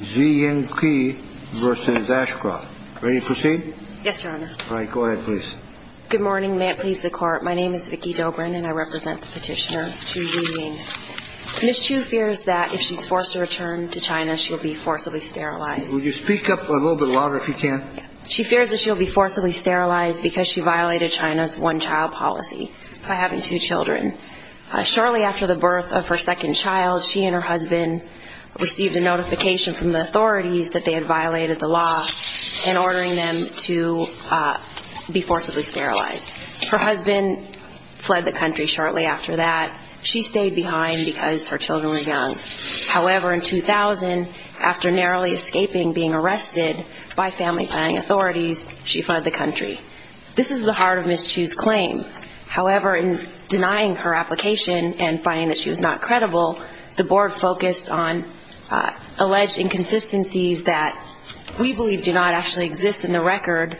versus Ashcroft. Ready to proceed? Yes, Your Honor. All right. Go ahead, please. Good morning. May it please the Court. My name is Vicky Dobrin, and I represent the petitioner, Chu Zhiying. Ms. Chu fears that if she's forced to return to China, she will be forcibly sterilized. Will you speak up a little bit louder if you can? She fears that she'll be forcibly sterilized because she violated China's one-child policy by having two children. Shortly after the birth of her second child, she and her husband received a notification from the authorities that they had violated the law in ordering them to be forcibly sterilized. Her husband fled the country shortly after that. She stayed behind because her children were young. However, in 2000, after narrowly escaping being arrested by family paying authorities, she fled the country. This is the heart of Ms. Chu's claim. However, in denying her application and finding that she was not credible, the board focused on alleged inconsistencies that we believe do not actually exist in the record,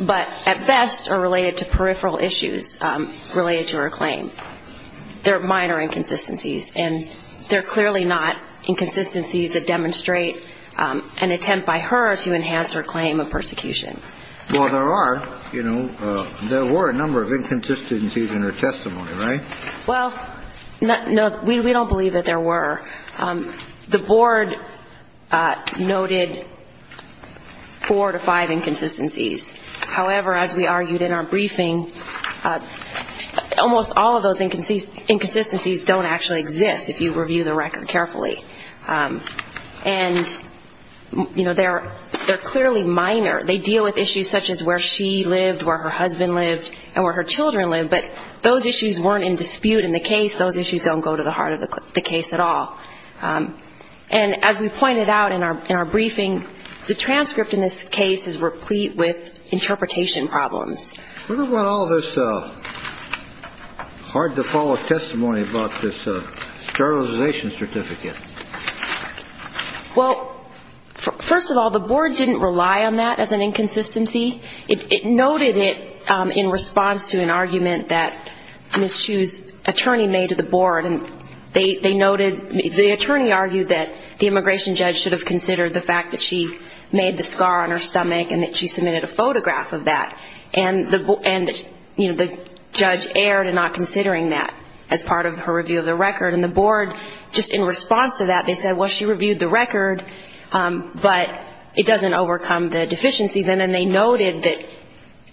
but at best are related to peripheral issues related to her claim. They're minor inconsistencies, and they're clearly not inconsistencies that demonstrate an attempt by her to enhance her claim of persecution. Well, there are, you know, there were a number of inconsistencies in her testimony, right? Well, no, we don't believe that there were. The board noted four to five inconsistencies. However, as we argued in our briefing, almost all of those inconsistencies don't actually exist if you review the record carefully. And, you know, they're clearly minor. They deal with issues such as where she lived, where her husband lived, and where her children lived. But those issues weren't in dispute in the case. Those issues don't go to the heart of the case at all. And as we pointed out in our briefing, the transcript in this case is replete with interpretation problems. What about all this hard-to-follow testimony about this sterilization certificate? Well, first of all, the board didn't rely on that as an inconsistency. It noted it in response to an argument that Ms. Chu's attorney made to the board. And they noted, the attorney argued that the immigration judge should have considered the fact that she made the scar on her stomach and that she submitted a photograph of that. And, you know, the judge erred in not considering that as part of her review of the record. And in response to that, they said, well, she reviewed the record, but it doesn't overcome the deficiencies. And then they noted that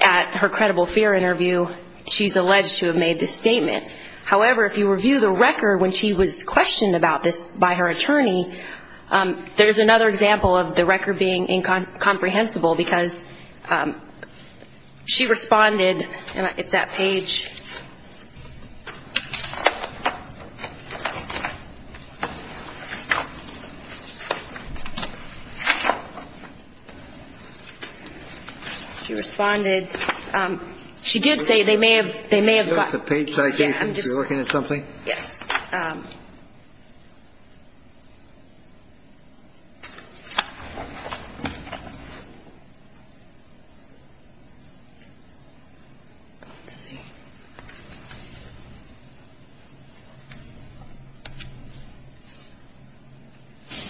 at her credible fear interview, she's alleged to have made this statement. However, if you review the record when she was questioned about this by her attorney, there's another example of the record being incomprehensible, because she responded, and it's at page... She responded. She did say they may have got... It's a page citation. Are you looking at something? Yes.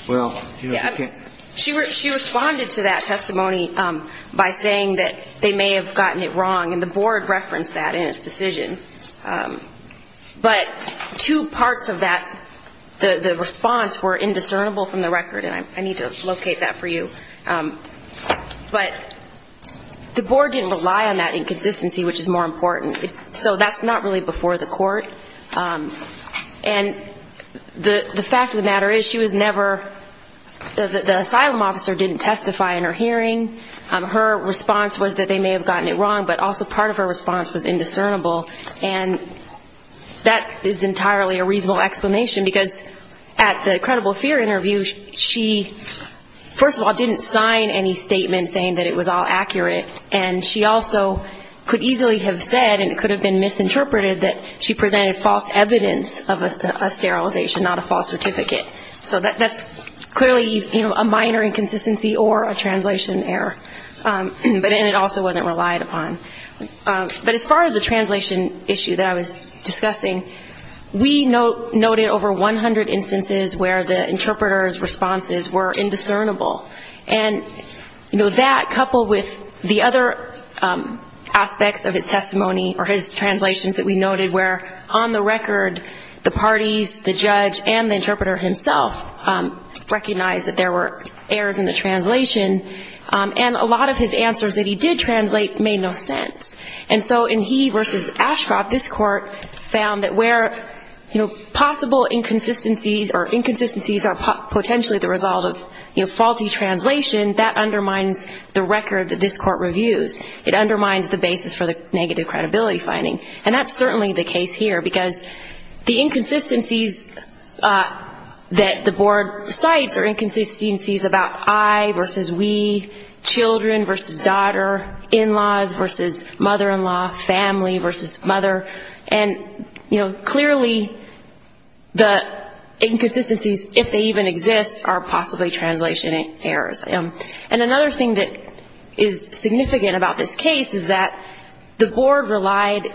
Well... She responded to that testimony by saying that they may have gotten it wrong, and the board referenced that in its decision. But two parts of that, the response, were indiscernible from the record, and I need to locate that for you. But the board didn't rely on that inconsistency, which is more important. So that's not really before the court. And the fact of the matter is, she was never... The asylum officer didn't testify in her hearing. Her response was that they may have gotten it wrong, but also part of her response was indiscernible. And that is entirely a reasonable explanation, because at the credible fear interview, she, first of all, didn't sign any statement saying that it was all accurate, and she also could easily have said, and it was a false statement, that she presented false evidence of a sterilization, not a false certificate. So that's clearly a minor inconsistency or a translation error. And it also wasn't relied upon. But as far as the translation issue that I was discussing, we noted over 100 instances where the interpreter's responses were indiscernible, and that, coupled with the other aspects of his testimony or his translations that we noted, where there was on the record the parties, the judge, and the interpreter himself recognized that there were errors in the translation, and a lot of his answers that he did translate made no sense. And so in he versus Ashcroft, this court found that where, you know, possible inconsistencies or inconsistencies are potentially the result of, you know, faulty translation, that undermines the record that this court reviews. It undermines the basis for the negative credibility finding. And that's certainly the case here. Because the inconsistencies that the board cites are inconsistencies about I versus we, children versus daughter, in-laws versus mother-in-law, family versus mother. And, you know, clearly the inconsistencies, if they even exist, are possibly translation errors. And another thing that is significant about this case is that the board relied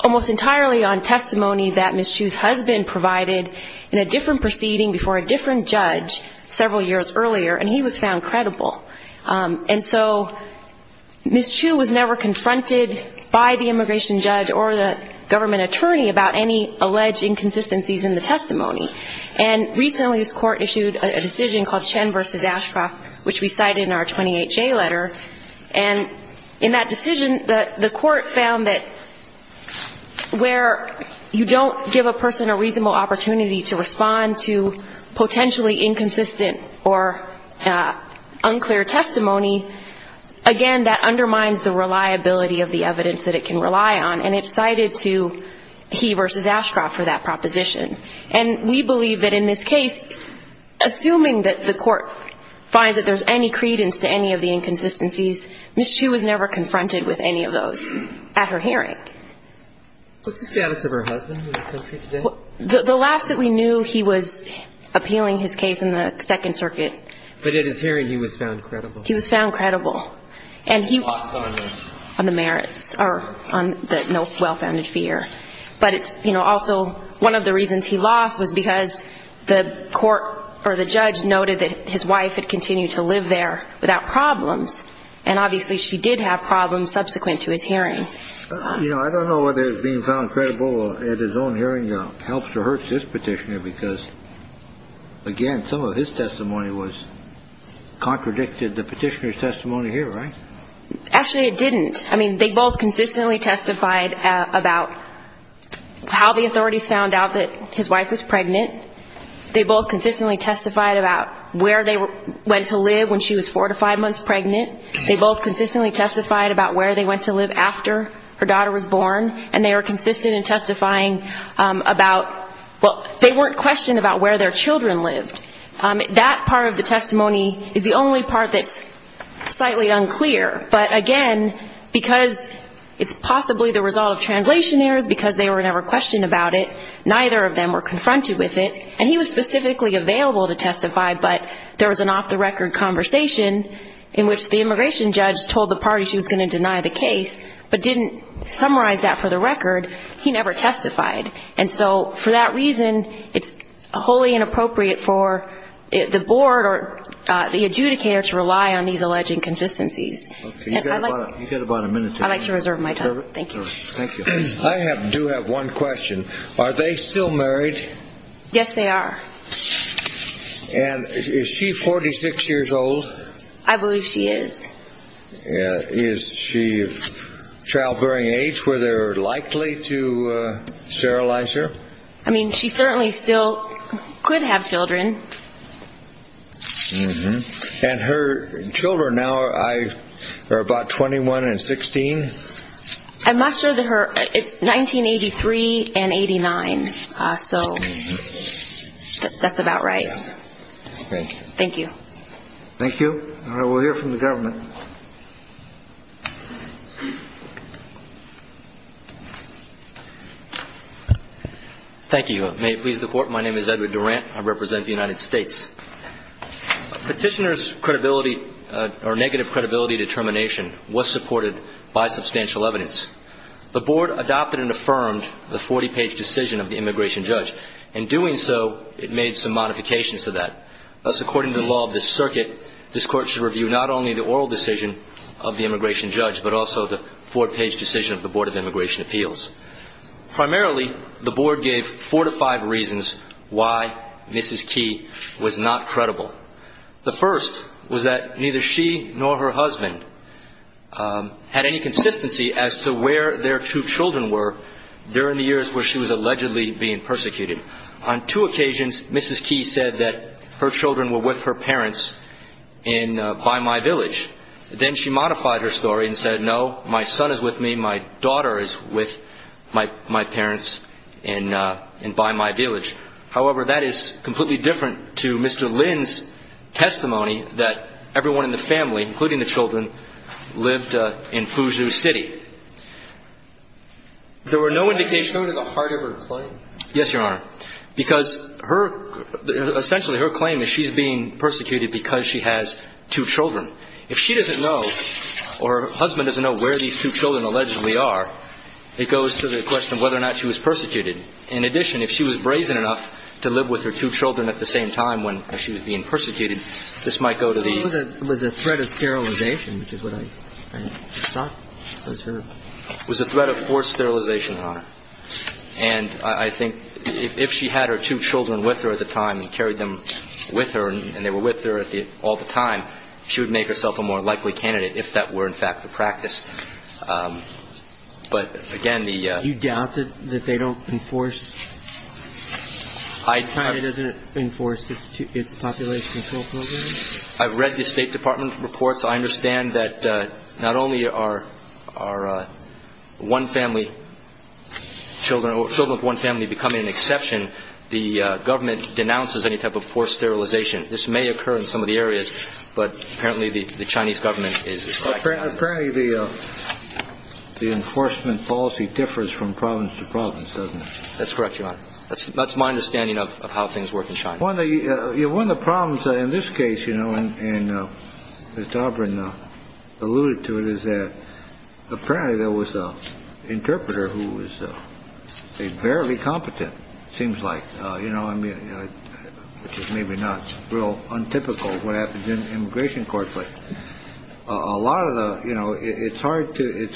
almost entirely on the testimony that Ms. Chu's husband provided in a different proceeding before a different judge several years earlier, and he was found credible. And so Ms. Chu was never confronted by the immigration judge or the government attorney about any alleged inconsistencies in the testimony. And recently this court issued a decision called Chen versus Ashcroft, which we cited in our 28-J letter. And in that decision, the court found that where, you know, there were errors in the translation, there were errors in the testimony, or you don't give a person a reasonable opportunity to respond to potentially inconsistent or unclear testimony, again, that undermines the reliability of the evidence that it can rely on. And it's cited to he versus Ashcroft for that proposition. And we believe that in this case, assuming that the court finds that there's any credence to any of the inconsistencies, Ms. Chu was never confronted with any of those at her hearing. What's the status of her husband? The last that we knew, he was appealing his case in the Second Circuit. But at his hearing, he was found credible. He was found credible. And he lost on the merits, or on the well-founded fear. But it's, you know, also one of the reasons he lost was because the court or the judge noted that his wife had continued to live there without problems, and obviously she did have problems subsequent to his hearing. You know, I'm not sure that that was true. I don't know whether he was being found credible at his own hearing helps or hurts this petitioner, because, again, some of his testimony was contradicted the petitioner's testimony here, right? Actually, it didn't. I mean, they both consistently testified about how the authorities found out that his wife was pregnant. They both consistently testified about where they went to live when she was four to five months pregnant. They both consistently testified about where they went to live after her daughter was born. And they were consistent in testifying about, well, they weren't questioned about where their children lived. That part of the testimony is the only part that's slightly unclear. But, again, because it's possibly the result of translation errors, because they were never questioned about it, neither of them were confronted with it. And he was specifically available to testify, but there was an off-the-record conversation in which the immigration judge told the party she was going to deny the case, but didn't summarize that for the record. He never testified. And so for that reason, it's wholly inappropriate for the board or the adjudicator to rely on these alleged inconsistencies. And I'd like to reserve my time. Thank you. I do have one question. Are they still married? Yes, they are. And is she 46 years old? I believe she is. Is she of childbearing age? Were they likely to sterilize her? I mean, she certainly still could have children. And her children now are about 21 and 16? I'm not sure that her ñ it's 1983 and 89. So that's about right. Thank you. Thank you. May it please the Court, my name is Edward Durant. I represent the United States. Petitioner's credibility or negative credibility determination was supported by substantial evidence. The board adopted and affirmed the 40-page decision of the immigration judge. In doing so, it made some modifications to that. Thus, according to the law of this circuit, this Court should review not only the oral decision of the immigration judge, but also the four-page decision of the Board of Immigration Appeals. Primarily, the board gave four to five reasons why Mrs. Key was not credible. The first was that neither she nor her husband had any consistency as to where their two children were during the years where she was allegedly being persecuted. On two occasions, Mrs. Key said that her children were with her parents by my village. Then she modified her story and said, no, my son is with me, my daughter is with my parents by my village. However, that is completely different to Mr. Lin's testimony that everyone in the family, including the children, lived in Fuzhou City. There were no indications... Go to the heart of her claim. Yes, Your Honor, because her, essentially her claim is she's being persecuted because she has two children. If she doesn't know, or her family doesn't know, that she has enough to live with her two children at the same time when she was being persecuted, this might go to the... It was a threat of sterilization, which is what I thought was her... It was a threat of forced sterilization, Your Honor. And I think if she had her two children with her at the time and carried them with her, and they were with her all the time, she would make herself a more likely candidate if that were, in fact, the practice. But, again, the... Do you doubt that they don't enforce... China doesn't enforce its population control program? I've read the State Department reports. I understand that not only are one family children, or children of one family becoming an exception, the government denounces any type of forced sterilization. This may occur in some of the areas, but apparently the Chinese government is... Apparently the enforcement policy differs from province to province, doesn't it? That's correct, Your Honor. That's my understanding of how things work in China. One of the problems in this case, you know, and as Dobrin alluded to it, is that apparently there was an interpreter who was a fairly competent, seems like, you know, I mean, which is maybe not real untypical of what happens in an immigration court, but a lot of the... You know, it's hard to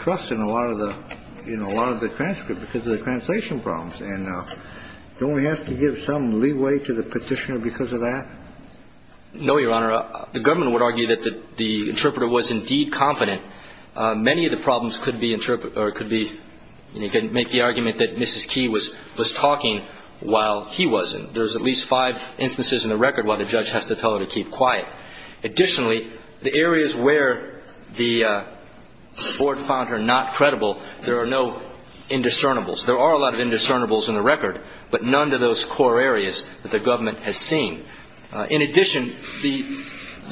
trust in a lot of the transcript because of the translation problems, and don't we have to give some leeway to the petitioner because of that? No, Your Honor. The government would argue that the interpreter was indeed competent. Many of the problems could be... You can make the argument that Mrs. Qi was talking while he wasn't. There's at least five instances in the record where the judge has to tell her to keep quiet. Additionally, the areas where the board found her not credible, there are no indiscernibles. There are a lot of indiscernibles in the record, but none to those core areas that the government has seen. In addition, the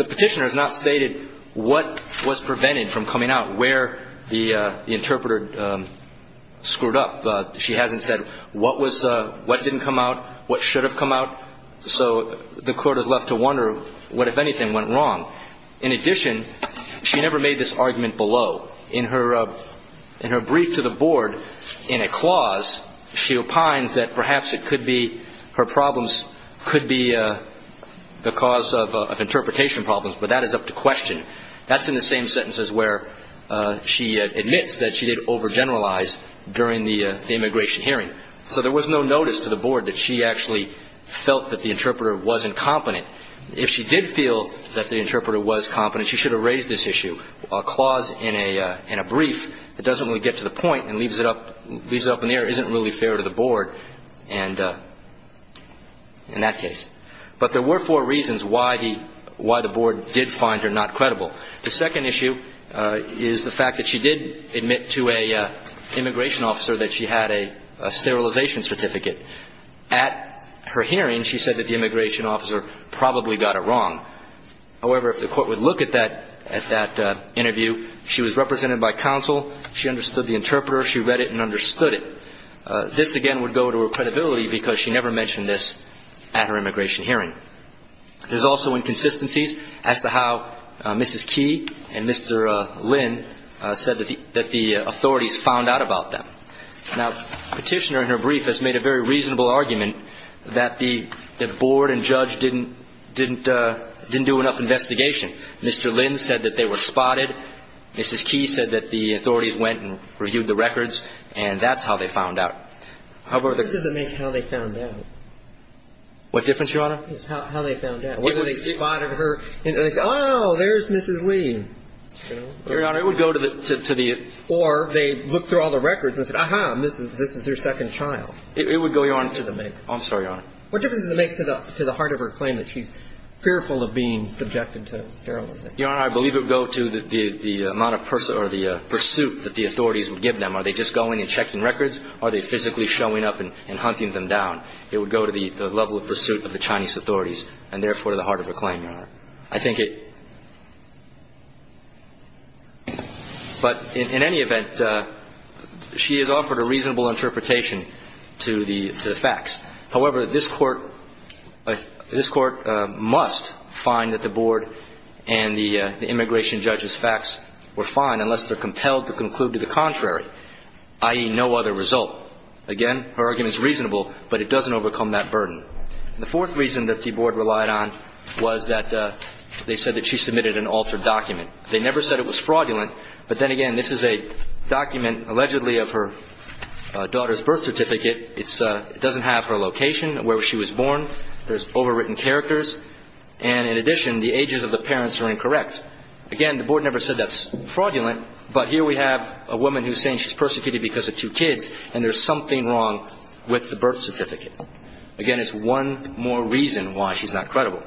petitioner has not stated what was prevented from coming out, where the interpreter screwed up. She hasn't said what didn't come out, what should have come out. So the court is left to wonder what, if anything, went wrong. In addition, she never made this argument below. In her brief to the board in a clause, she opines that perhaps it could be her problems could be the cause of interpretation problems, but that is up to question. That's in the same sentences where she admits that she did overgeneralize during the immigration hearing. So there was no notice to the board that she actually felt that the interpreter wasn't competent. If she did feel that the interpreter was competent, she should have raised this issue. A clause in a brief that doesn't really get to the point and leaves it up in the air isn't really fair to the board in that case. But there were four reasons why the board did find her not credible. The second issue is the fact that she did admit to an immigration officer that she had a sterilization certificate. At her hearing, she said that the immigration officer probably got it wrong. However, if the court would look at that interview, she was represented by counsel, she understood the interpreter, she read it and understood it. This, again, would go to her credibility because she never mentioned this at her immigration hearing. There's also inconsistencies as to how Mrs. Key and Mr. Lynn said that the authorities found out about them. Now, the petitioner in her brief has made a very reasonable argument that the board and judge didn't do enough investigation. Mr. Lynn said that they were spotted, Mrs. Key said that the authorities went and reviewed the records, and that's how they found out. What difference does it make how they found out? Whether they spotted her and said, oh, there's Mrs. Lee. Or they looked through all the records and said, aha, this is her second child. What difference does it make to the heart of her claim that she's fearful of being subjected to sterilization? Your Honor, I believe it would go to the amount of pursuit that the authorities would give them. Are they just going and checking records, or are they physically showing up and hunting them down? It would go to the level of pursuit of the Chinese authorities, and therefore to the heart of her claim, Your Honor. But in any event, she has offered a reasonable interpretation to the facts. However, this Court must find that the board and the immigration judge's facts were fine unless they're compelled to conclude to the contrary. I.e., no other result. Again, her argument is reasonable, but it doesn't overcome that burden. The fourth reason that the board relied on was that they said that she submitted an altered document. They never said it was fraudulent, but then again, this is a document allegedly of her daughter's birth certificate. It doesn't have her location, where she was born. There's overwritten characters. And in addition, the ages of the parents are incorrect. Again, the board never said that's fraudulent, but here we have a woman who's saying she's persecuted because of two kids, and there's something wrong with the birth certificate. Again, it's one more reason why she's not credible.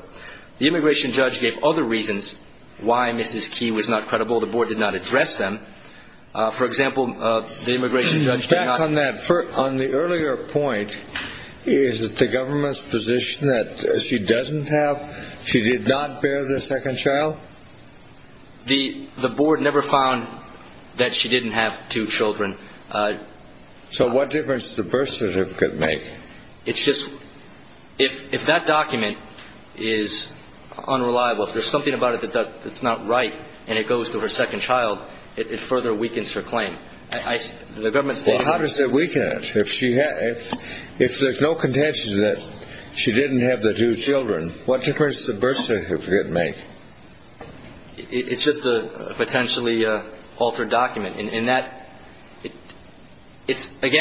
The immigration judge gave other reasons why Mrs. Key was not credible. The board did not address them. For example, the immigration judge did not... The board never found that she didn't have two children. So what difference does the birth certificate make? If that document is unreliable, if there's something about it that's not right, and it goes to her second child, it further weakens her claim. Well, how does it weaken it? If there's no contention that she didn't have the two children, what difference does the birth certificate make? It's just a potentially altered document. Again,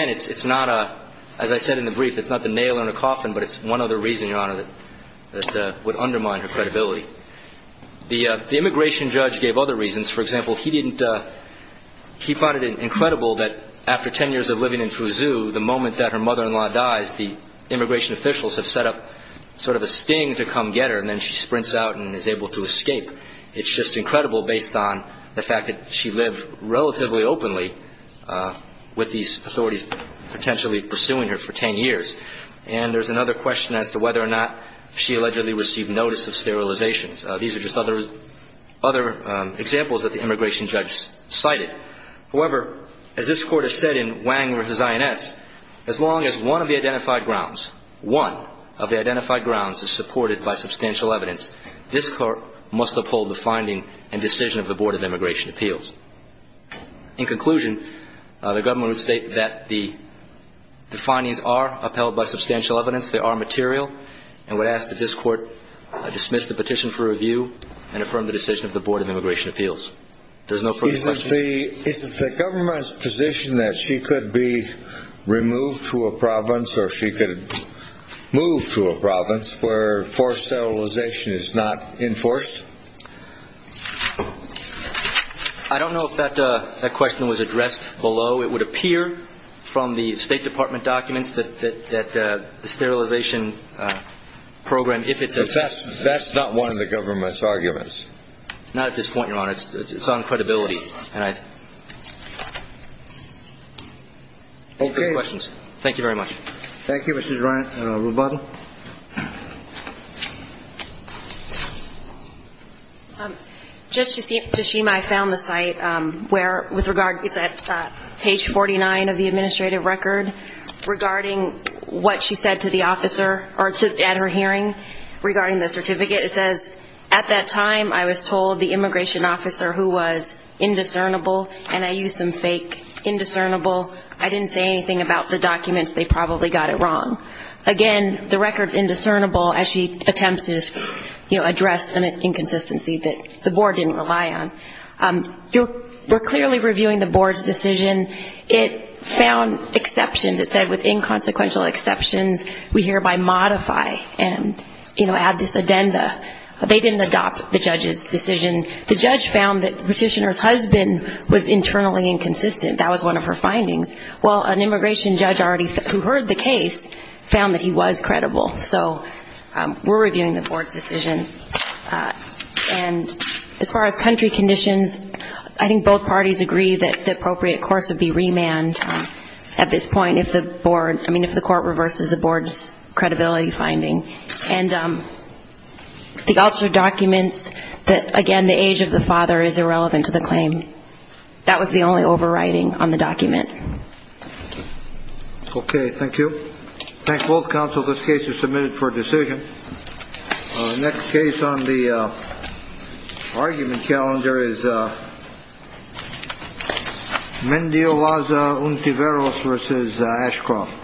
as I said in the brief, it's not the nail in the coffin, but it's one other reason, Your Honor, that would undermine her credibility. The immigration judge gave other reasons. For example, he didn't... It's incredible that after 10 years of living in Fouzou, the moment that her mother-in-law dies, the immigration officials have set up sort of a sting to come get her, and then she sprints out and is able to escape. It's just incredible based on the fact that she lived relatively openly with these authorities potentially pursuing her for 10 years. And there's another question as to whether or not she allegedly received notice of sterilizations. These are just other examples that the immigration judge cited. However, as this Court has said in Wang v. INS, as long as one of the identified grounds is supported by substantial evidence, this Court must uphold the finding and decision of the Board of Immigration Appeals. In conclusion, the government would state that the findings are upheld by substantial evidence, they are material, and would ask that this Court dismiss the petition for review and affirm the decision of the Board of Immigration Appeals. Is it the government's position that she could be removed to a province or she could move to a province where forced sterilization is not enforced? I don't know if that question was addressed below. It would appear from the State Department documents that the sterilization program, if it's enforced. That's not one of the government's arguments. Not at this point, Your Honor. It's on credibility. Thank you very much. Thank you, Mr. Rubato. Judge Tashima, I found the site, it's at page 49 of the administrative record, regarding what she said to the officer at her hearing regarding the certificate. It says, at that time I was told the immigration officer who was indiscernible and I used some fake indiscernible. I didn't say anything about the documents. They probably got it wrong. Again, the record's indiscernible as she attempts to address an inconsistency that the Board didn't rely on. We're clearly reviewing the Board's decision. It found exceptions. It said with inconsequential exceptions we hereby modify and add this addenda. They didn't adopt the judge's decision. The judge found that the petitioner's husband was internally inconsistent. That was one of her findings. An immigration judge who heard the case found that he was credible. We're reviewing the Board's decision. And as far as country conditions, I think both parties agree that the appropriate course would be remand at this point if the Board, I mean if the Court reverses the Board's credibility finding. And the officer documents that, again, the age of the father is irrelevant to the claim. That was the only overriding on the document. Okay. Thank you. Thank both counsel. This case is submitted for decision. The next case on the argument calendar is Mendio Laza, Untiveros v. Ashcroft.